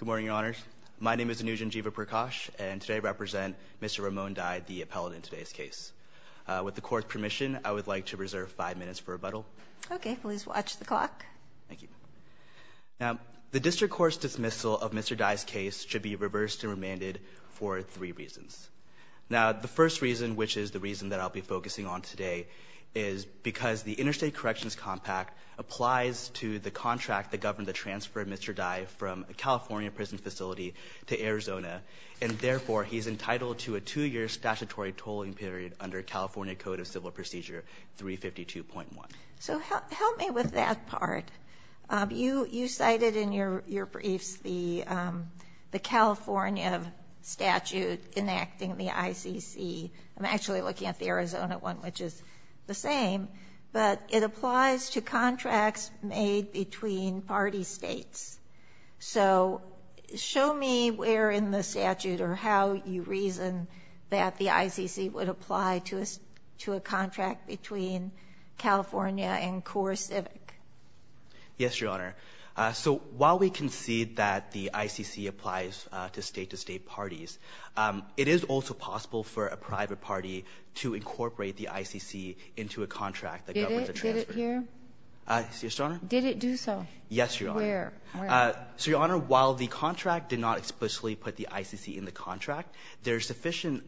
Good morning, Your Honors. My name is Anujan Jeevaprakash, and today I represent Mr. Ramon Dy, the appellate in today's case. With the Court's permission, I would like to reserve five minutes for rebuttal. Okay, please watch the clock. Thank you. Now, the District Court's dismissal of Mr. Dy's case should be reversed and remanded for three reasons. Now, the first reason, which is the reason that I'll be focusing on today, is because the Interstate Corrections Compact applies to the contract that governed the transfer of Mr. Dy from a California prison facility to Arizona, and therefore, he's entitled to a two-year statutory tolling period under California Code of Civil Procedure 352.1. So help me with that part. You cited in your briefs the California statute enacting the ICC. I'm actually looking at the Arizona one, which is the same, but it applies to contracts made between party states. So show me where in the statute or how you reason that the ICC would apply to a contract between California and CoreCivic. Yes, Your Honor. So while we concede that the ICC applies to state-to-state parties, it is also possible for a private party to incorporate the ICC into a contract that governs the transfer. Did it here? Yes, Your Honor. Did it do so? Yes, Your Honor. Where? So, Your Honor, while the contract did not explicitly put the ICC in the contract, there's sufficient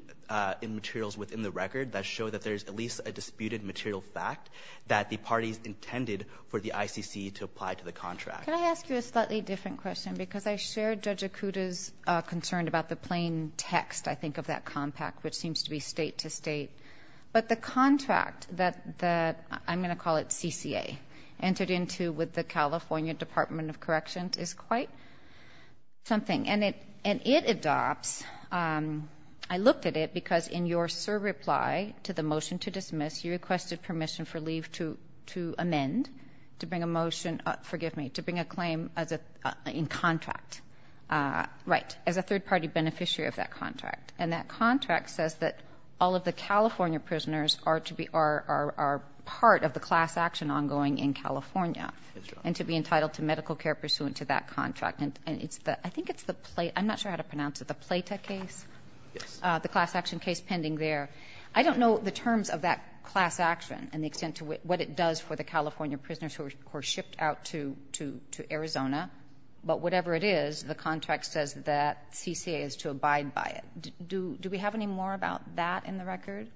materials within the record that show that there's at least a disputed material fact that the parties intended for the ICC to apply to the contract. Can I ask you a slightly different question? Because I shared Judge Akuta's concern about the plain text, I think, of that compact, which seems to be state-to-state. But the contract that the, I'm going to call it CCA, entered into with the California Department of Corrections is quite something. And it adopts, I looked at it because in your surreply to the motion to dismiss, you requested permission for leave to amend to bring a motion, forgive me, to bring a claim in contract, right, as a third-party beneficiary of that contract. And that contract says that all of the California prisoners are to be or are part of the class action ongoing in California and to be entitled to medical care pursuant to that contract. And it's the, I think it's the, I'm not sure how to pronounce it, the Plata case? Yes. The class action case pending there. I don't know the terms of that class action and the extent to what it does for the California prisoners who are shipped out to Arizona. But whatever it is, the contract says that CCA is to abide by it. Do we have any more about that in the record?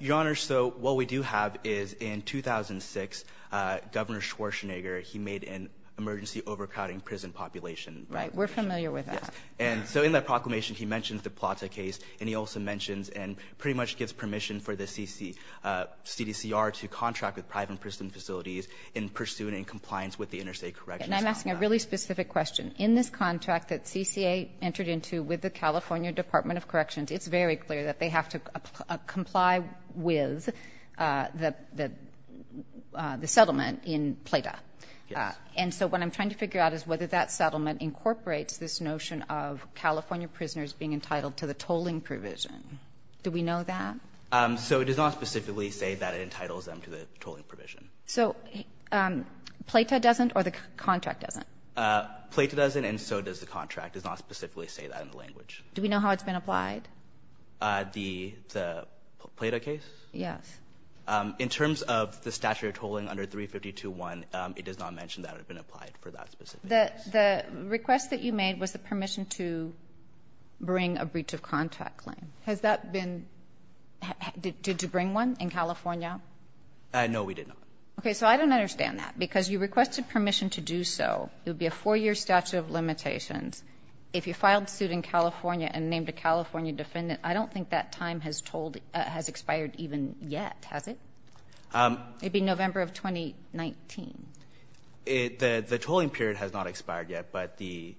Your Honor, so what we do have is in 2006, Governor Schwarzenegger, he made an emergency overcrowding prison population. Right. We're familiar with that. And so in that proclamation, he mentions the Plata case, and he also mentions and pretty much gives permission for the CDCR to contract with private prison facilities in pursuit and compliance with the interstate corrections. And I'm asking a really specific question. In this contract that CCA entered into with the California Department of Corrections, it's very clear that they have to comply with the settlement in Plata. Yes. And so what I'm trying to figure out is whether that settlement incorporates this notion of California prisoners being entitled to the tolling provision. Do we know that? So it does not specifically say that it entitles them to the tolling provision. So Plata doesn't or the contract doesn't? Plata doesn't, and so does the contract. It does not specifically say that in the language. Do we know how it's been applied? The Plata case? Yes. In terms of the statute of tolling under 352.1, it does not mention that it had been applied for that specific case. The request that you made was the permission to bring a breach of contract claim. Has that been to bring one in California? No, we did not. Okay. So I don't understand that. Because you requested permission to do so. It would be a four-year statute of limitations. If you filed suit in California and named a California defendant, I don't think that time has tolled or has expired even yet, has it? It would be November of 2019. The tolling period has not expired yet, but the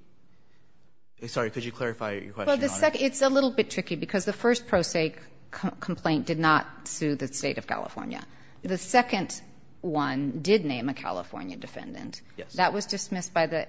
– sorry, could you clarify your question? Well, the second – it's a little bit tricky because the first pro se complaint did not sue the State of California. The second one did name a California defendant. Yes. That was dismissed by the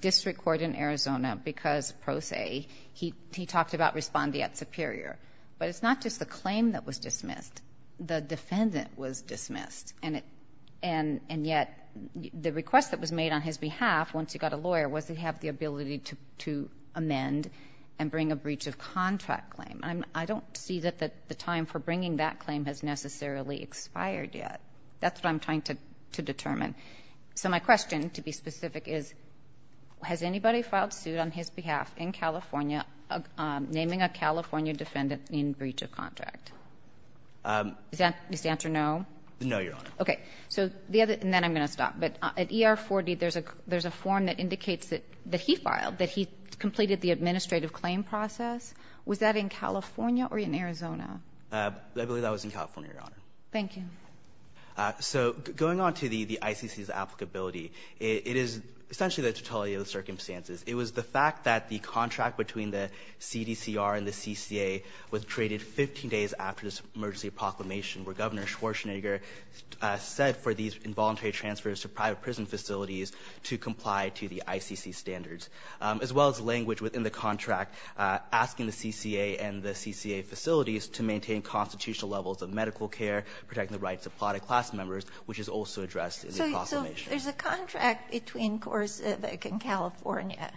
district court in Arizona because pro se. He talked about respondeat superior. But it's not just the claim that was dismissed. The defendant was dismissed. And yet the request that was made on his behalf, once he got a lawyer, was to have the ability to amend and bring a breach of contract claim. I don't see that the time for bringing that claim has necessarily expired yet. That's what I'm trying to determine. So my question, to be specific, is, has anybody filed suit on his behalf in California naming a California defendant in breach of contract? Does the answer no? No, Your Honor. Okay. So the other – and then I'm going to stop. But at ER-40, there's a form that indicates that he filed, that he completed the administrative claim process. Was that in California or in Arizona? I believe that was in California, Your Honor. Thank you. So going on to the ICC's applicability, it is essentially the totality of the circumstances. It was the fact that the contract between the CDCR and the CCA was created 15 days after this emergency proclamation, where Governor Schwarzenegger said for these involuntary transfers to private prison facilities to comply to the ICC standards, as well as language within the contract asking the CCA and the CCA facilities to maintain constitutional levels of medical care, protect the rights of product class members, which is also addressed in the proclamation. So there's a contract between CoreCivic and California.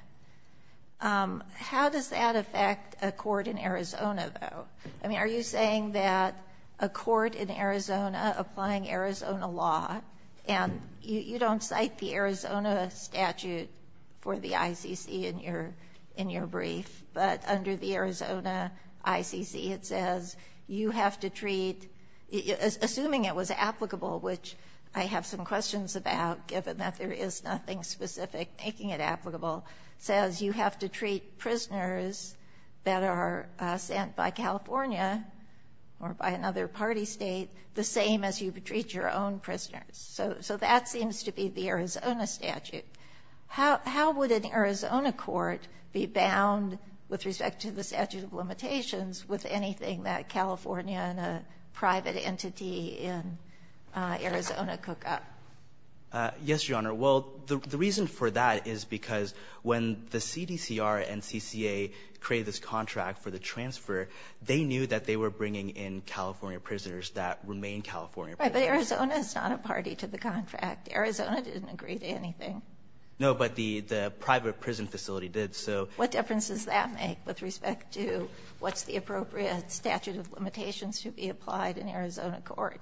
How does that affect a court in Arizona, though? I mean, are you saying that a court in Arizona applying Arizona law, and you don't cite the Arizona statute for the ICC in your brief, but under the Arizona ICC it says you have to treat, assuming it was applicable, which I have some questions about given that there is nothing specific making it applicable, says you have to treat prisoners that are sent by California or by another party State the same as you treat your own prisoners. So that seems to be the Arizona statute. How would an Arizona court be bound with respect to the statute of limitations with anything that California and a private entity in Arizona cook up? Yes, Your Honor. Well, the reason for that is because when the CDCR and CCA created this contract for the transfer, they knew that they were bringing in California prisoners that remained California prisoners. But Arizona is not a party to the contract. Arizona didn't agree to anything. No, but the private prison facility did. So what difference does that make with respect to what's the appropriate statute of limitations to be applied in Arizona court?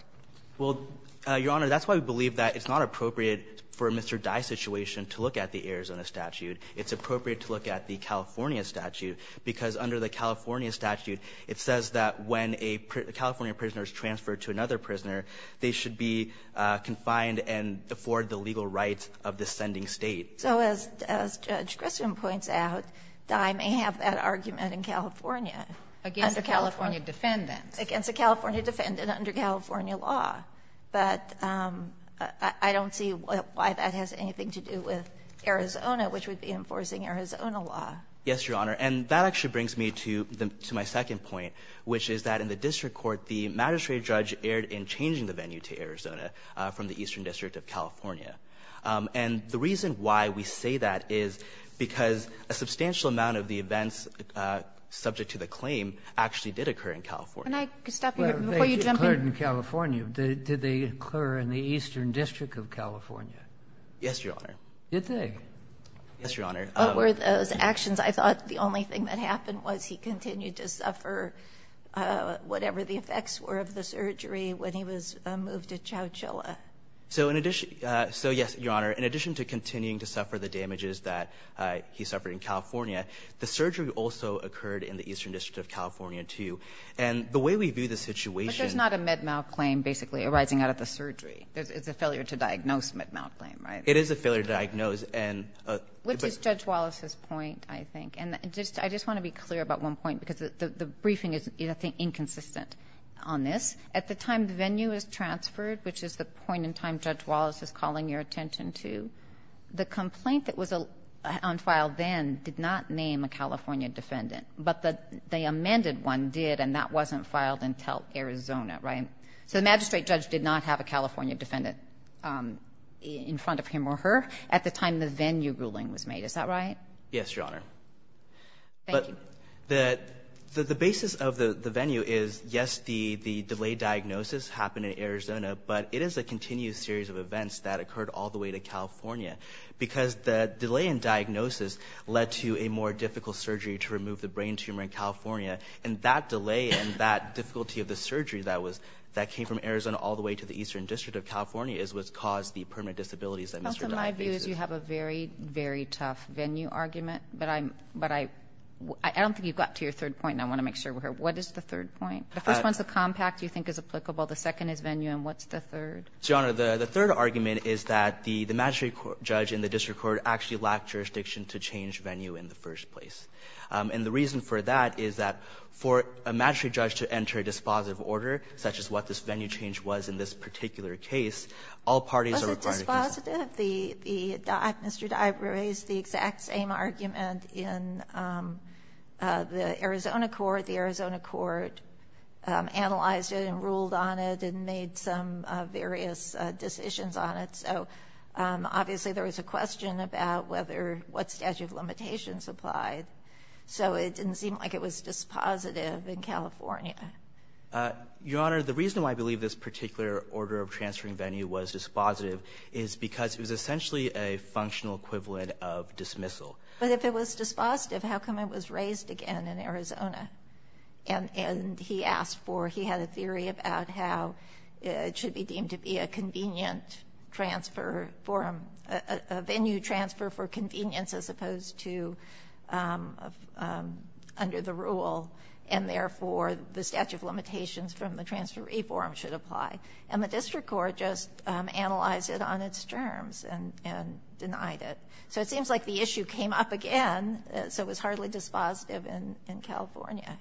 Well, Your Honor, that's why we believe that it's not appropriate for a Mr. Dye situation to look at the Arizona statute. It's appropriate to look at the California statute, because under the California statute, it says that when a California prisoner is transferred to another prisoner, they should be confined and afford the legal rights of the sending State. So as Judge Grissom points out, Dye may have that argument in California. Against a California defendant. Against a California defendant under California law. But I don't see why that has anything to do with Arizona, which would be enforcing Arizona law. Yes, Your Honor. And that actually brings me to the to my second point, which is that in the district court, the magistrate judge erred in changing the venue to Arizona from the Eastern District of California. And the reason why we say that is because a substantial amount of the events subject to the claim actually did occur in California. Can I stop you before you jump in? Well, they did occur in California. Did they occur in the Eastern District of California? Yes, Your Honor. Did they? Yes, Your Honor. What were those actions? I thought the only thing that happened was he continued to suffer whatever the effects were of the surgery when he was moved to Chowchilla. So in addition to yes, Your Honor, in addition to continuing to suffer the damages that he suffered in California, the surgery also occurred in the Eastern District of California, too. And the way we view the situation. But there's not a mid-mouth claim basically arising out of the surgery. It's a failure to diagnose mid-mouth claim, right? It is a failure to diagnose. Which is Judge Wallace's point, I think. And I just want to be clear about one point, because the briefing is, I think, inconsistent on this. At the time the venue was transferred, which is the point in time Judge Wallace is calling your attention to, the complaint that was on file then did not name a California defendant. But the amended one did, and that wasn't filed until Arizona, right? So the magistrate judge did not have a California defendant in front of him or her. At the time the venue ruling was made. Is that right? Yes, Your Honor. Thank you. But the basis of the venue is, yes, the delayed diagnosis happened in Arizona. But it is a continued series of events that occurred all the way to California. Because the delay in diagnosis led to a more difficult surgery to remove the brain tumor in California. And that delay and that difficulty of the surgery that came from Arizona all the way to the Eastern District of California is what caused the permanent disabilities that Mr. Dodd faces. So my view is you have a very, very tough venue argument. But I don't think you got to your third point, and I want to make sure we're here. What is the third point? The first one is the compact you think is applicable. The second is venue. And what's the third? So, Your Honor, the third argument is that the magistrate judge and the district court actually lacked jurisdiction to change venue in the first place. And the reason for that is that for a magistrate judge to enter a dispositive order, such as what this venue change was in this particular case, all parties are required to consent. Sotomayor, was it dispositive? Mr. Dodd raised the exact same argument in the Arizona court. The Arizona court analyzed it and ruled on it and made some various decisions on it. So, obviously, there was a question about whether what statute of limitations applied. So it didn't seem like it was dispositive in California. Your Honor, the reason why I believe this particular order of transferring venue was dispositive is because it was essentially a functional equivalent of dismissal. But if it was dispositive, how come it was raised again in Arizona? And he asked for, he had a theory about how it should be deemed to be a convenient transfer forum, a venue transfer for convenience as opposed to under the rule, and therefore the statute of limitations from the transferee forum should apply. And the district court just analyzed it on its terms and denied it. So it seems like the issue came up again. So it was hardly dispositive in California.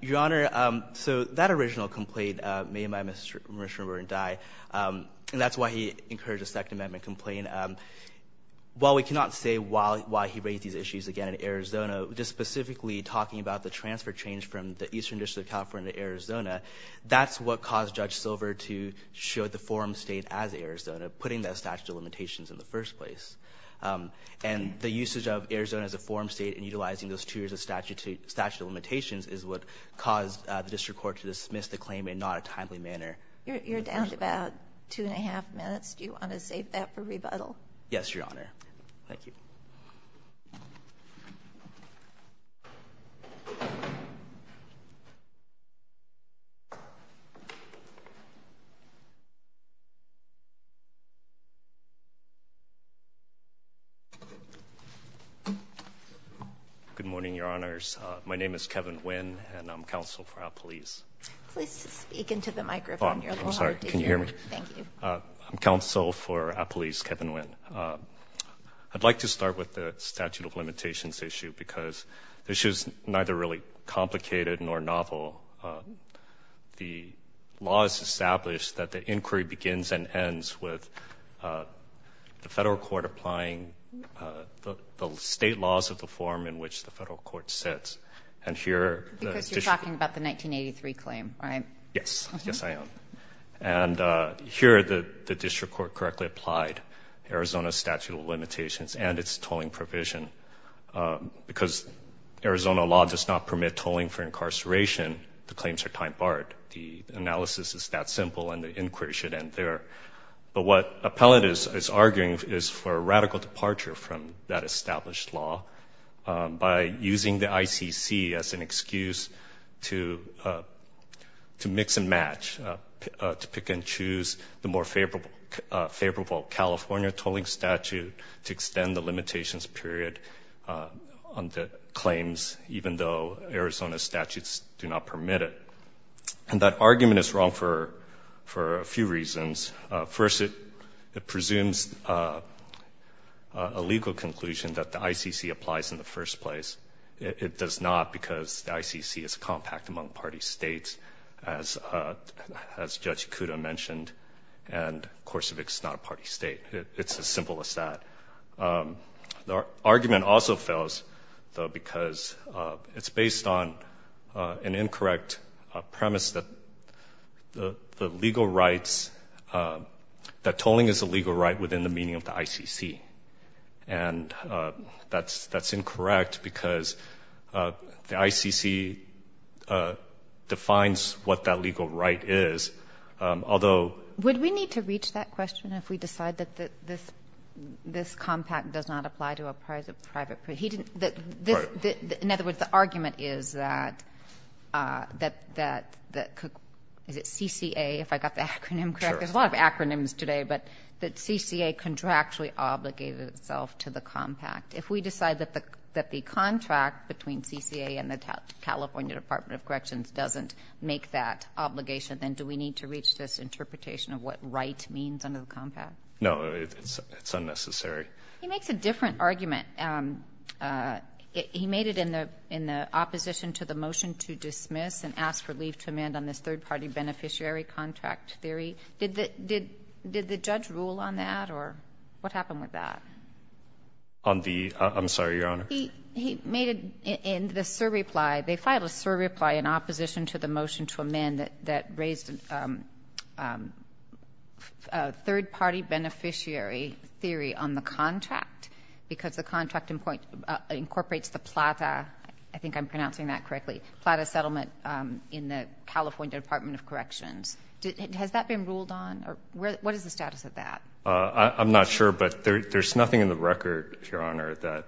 Your Honor, so that original complaint made by Mr. Bernstein, and that's why he encouraged a Second Amendment complaint. While we cannot say why he raised these issues again in Arizona, just specifically in Arizona, that's what caused Judge Silver to show the forum State as Arizona, putting that statute of limitations in the first place. And the usage of Arizona as a forum State and utilizing those two years of statute of limitations is what caused the district court to dismiss the claim in not a timely manner. You're down to about two and a half minutes. Do you want to save that for rebuttal? Yes, Your Honor. Thank you. Good morning, Your Honors. My name is Kevin Nguyen, and I'm counsel for Appalese. Please speak into the microphone. I'm sorry. Can you hear me? Thank you. I'm counsel for Appalese, Kevin Nguyen. I'd like to start with the statute of limitations issue, because this is neither really complicated nor novel. The law is established that the inquiry begins and ends with the Federal court applying the State laws of the forum in which the Federal court sits. And here the district court. Because you're talking about the 1983 claim, right? Yes. Yes, I am. And here the district court correctly applied. Arizona statute of limitations and its tolling provision. Because Arizona law does not permit tolling for incarceration, the claims are time barred. The analysis is that simple, and the inquiry should end there. But what Appalese is arguing is for a radical departure from that established law by using the ICC as an excuse to mix and match, to pick and choose the more California tolling statute to extend the limitations period on the claims, even though Arizona statutes do not permit it. And that argument is wrong for a few reasons. First, it presumes a legal conclusion that the ICC applies in the first place. It does not, because the ICC is compact among party States, as Judge Kudo mentioned, and, of course, it's not a party State. It's as simple as that. The argument also fails, though, because it's based on an incorrect premise that the legal rights, that tolling is a legal right within the meaning of the ICC. And that's incorrect, because the ICC defines what that legal right is, although If we decide that the ICC does not apply to a private party, would we need to reach that question if we decide that this compact does not apply to a private party? He didn't — that this — in other words, the argument is that, that the, is it CCA, if I got the acronym correct? There's a lot of acronyms today. But that CCA contractually obligated itself to the compact. If we decide that the contract between CCA and the California Department of Corrections doesn't make that obligation, then do we need to reach this interpretation of what right means under the compact? No. It's unnecessary. He makes a different argument. He made it in the opposition to the motion to dismiss and ask for leave to amend on this third-party beneficiary contract theory. Did the — did the judge rule on that, or what happened with that? On the — I'm sorry, Your Honor. He made it in the surreply. They filed a surreply in opposition to the motion to amend that raised a third-party beneficiary theory on the contract because the contract incorporates the PLATA — I think I'm pronouncing that correctly — PLATA settlement in the California Department of Corrections. Has that been ruled on? Or what is the status of that? I'm not sure. But there's nothing in the record, Your Honor, that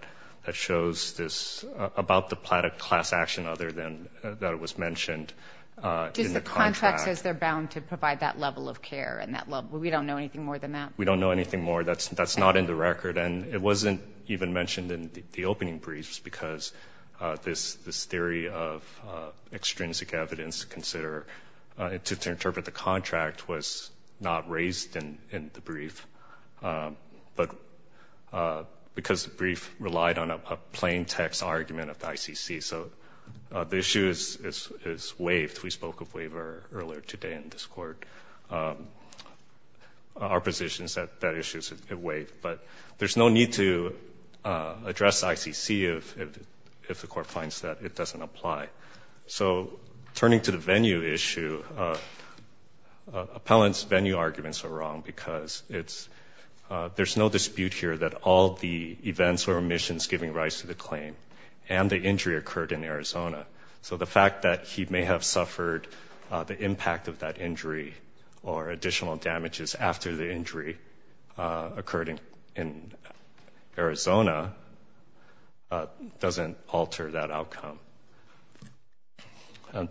shows this — about the PLATA class action other than that it was mentioned in the contract. Does the contract say they're bound to provide that level of care and that level — we don't know anything more than that? We don't know anything more. That's not in the record. And it wasn't even mentioned in the opening briefs because this theory of extrinsic evidence to consider — to interpret the contract was not raised in the brief, but because the brief relied on a plain-text argument of the ICC. So the issue is waived. We spoke of waiver earlier today in this Court. Our position is that that issue is waived. But there's no need to address ICC if the Court finds that it doesn't apply. So turning to the venue issue, appellant's venue arguments are wrong because it's — there's no dispute here that all the events or omissions giving rise to the claim and the injury occurred in Arizona. So the fact that he may have suffered the impact of that injury or additional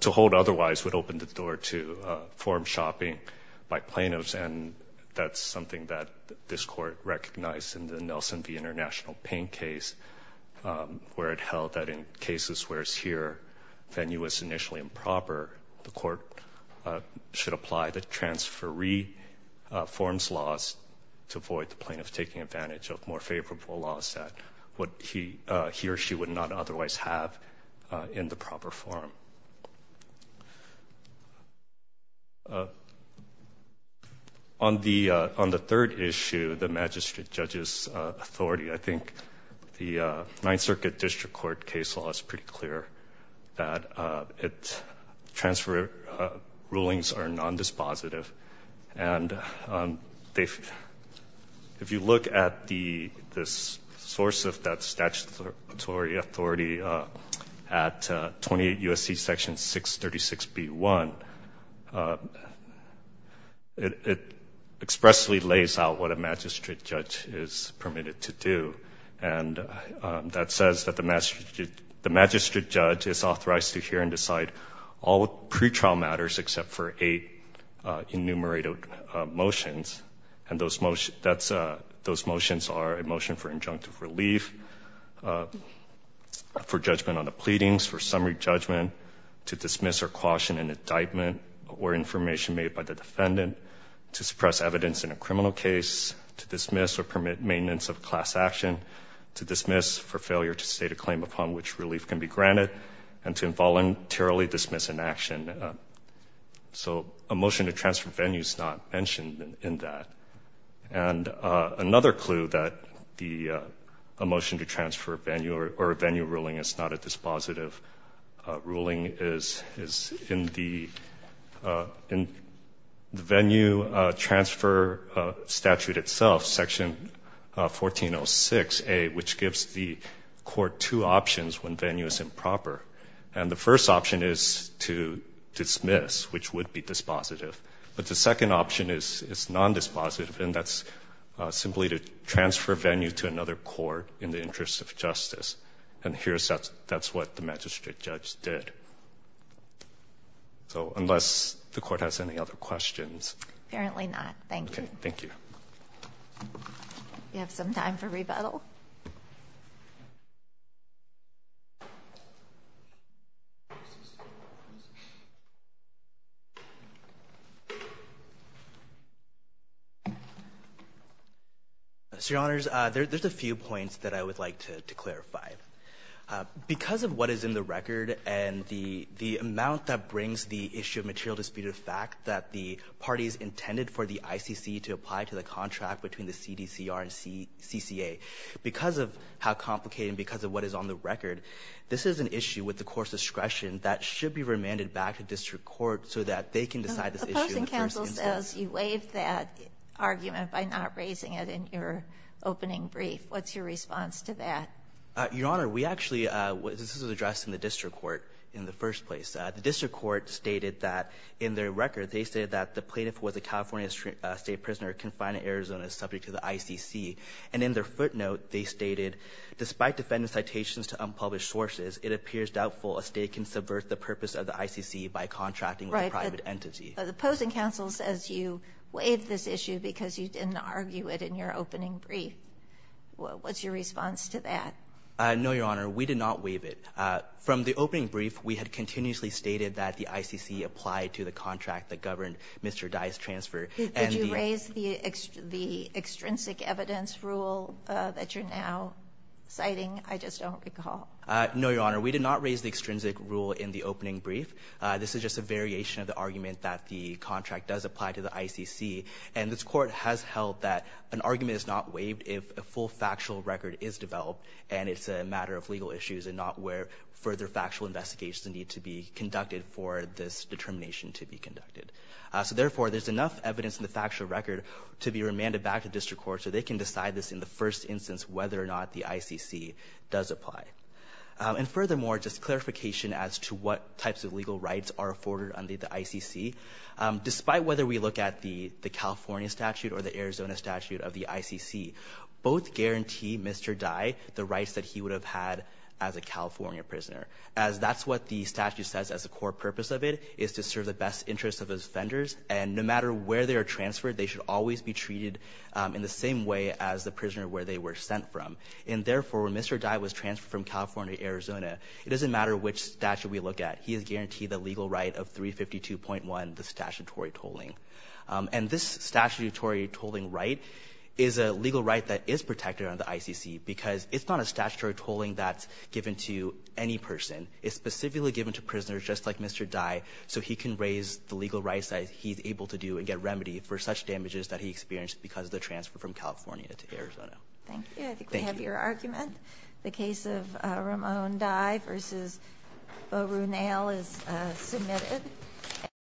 To hold otherwise would open the door to form shopping by plaintiffs, and that's something that this Court recognized in the Nelson v. International Payne case where it held that in cases where it's here, venue is initially improper, the Court should apply the transferee forms laws to avoid the plaintiff taking advantage of more favorable laws that he or she would not otherwise have in the proper form. On the third issue, the magistrate judge's authority, I think the Ninth Circuit District Court case law is pretty clear that transfer rulings are nondispositive. And if you look at the source of that statutory authority at 28 U.S.C. Section 636B1, it expressly lays out what a magistrate judge is permitted to do. And that says that the magistrate judge is authorized to hear and decide all enumerated motions, and those motions are a motion for injunctive relief, for judgment on the pleadings, for summary judgment, to dismiss or caution an indictment or information made by the defendant, to suppress evidence in a criminal case, to dismiss or permit maintenance of class action, to dismiss for failure to state a claim upon which relief can be granted, and to involuntarily dismiss an action. So a motion to transfer venue is not mentioned in that. And another clue that a motion to transfer venue or a venue ruling is not a dispositive ruling is in the venue transfer statute itself, Section 1406A, which gives the Court two options when venue is improper. And the first option is to dismiss, which would be dispositive. But the second option is nondispositive, and that's simply to transfer venue to another court in the interest of justice. And here's that's what the magistrate judge did. So unless the Court has any other questions. Apparently not. Thank you. We have some time for rebuttal. So, Your Honors, there's a few points that I would like to clarify. Because of what is in the record and the amount that brings the issue of material ways intended for the ICC to apply to the contract between the CDCR and CCA, because of how complicated and because of what is on the record, this is an issue with the Court's discretion that should be remanded back to district court so that they can decide this issue in the first instance. Opposing counsel says you waived that argument by not raising it in your opening brief. What's your response to that? Your Honor, we actually this was addressed in the district court in the first place. The district court stated that in their record, they said that the plaintiff was a California State prisoner confined in Arizona subject to the ICC. And in their footnote, they stated, despite defendant's citations to unpublished sources, it appears doubtful a State can subvert the purpose of the ICC by contracting with a private entity. Right. But the opposing counsel says you waived this issue because you didn't argue it in your opening brief. What's your response to that? No, Your Honor. We did not waive it. From the opening brief, we had continuously stated that the ICC applied to the contract that governed Mr. Dye's transfer. Did you raise the extrinsic evidence rule that you're now citing? I just don't recall. No, Your Honor. We did not raise the extrinsic rule in the opening brief. This is just a variation of the argument that the contract does apply to the ICC. And this Court has held that an argument is not waived if a full factual record is developed and it's a matter of legal issues and not where further factual investigations need to be conducted for this determination to be conducted. So therefore, there's enough evidence in the factual record to be remanded back to District Court so they can decide this in the first instance whether or not the ICC does apply. And furthermore, just clarification as to what types of legal rights are afforded under the ICC. Despite whether we look at the California statute or the Arizona statute of the rights that he would have had as a California prisoner, as that's what the statute says as a core purpose of it is to serve the best interests of his offenders. And no matter where they are transferred, they should always be treated in the same way as the prisoner where they were sent from. And therefore, when Mr. Dye was transferred from California to Arizona, it doesn't matter which statute we look at. He is guaranteed the legal right of 352.1, the statutory tolling. And this statutory tolling right is a legal right that is protected under the ICC because it's not a statutory tolling that's given to any person. It's specifically given to prisoners just like Mr. Dye so he can raise the legal rights that he's able to do and get remedy for such damages that he experienced because of the transfer from California to Arizona. Thank you. Thank you. I think we have your argument. The case of Ramon Dye versus Bo Ronell is submitted.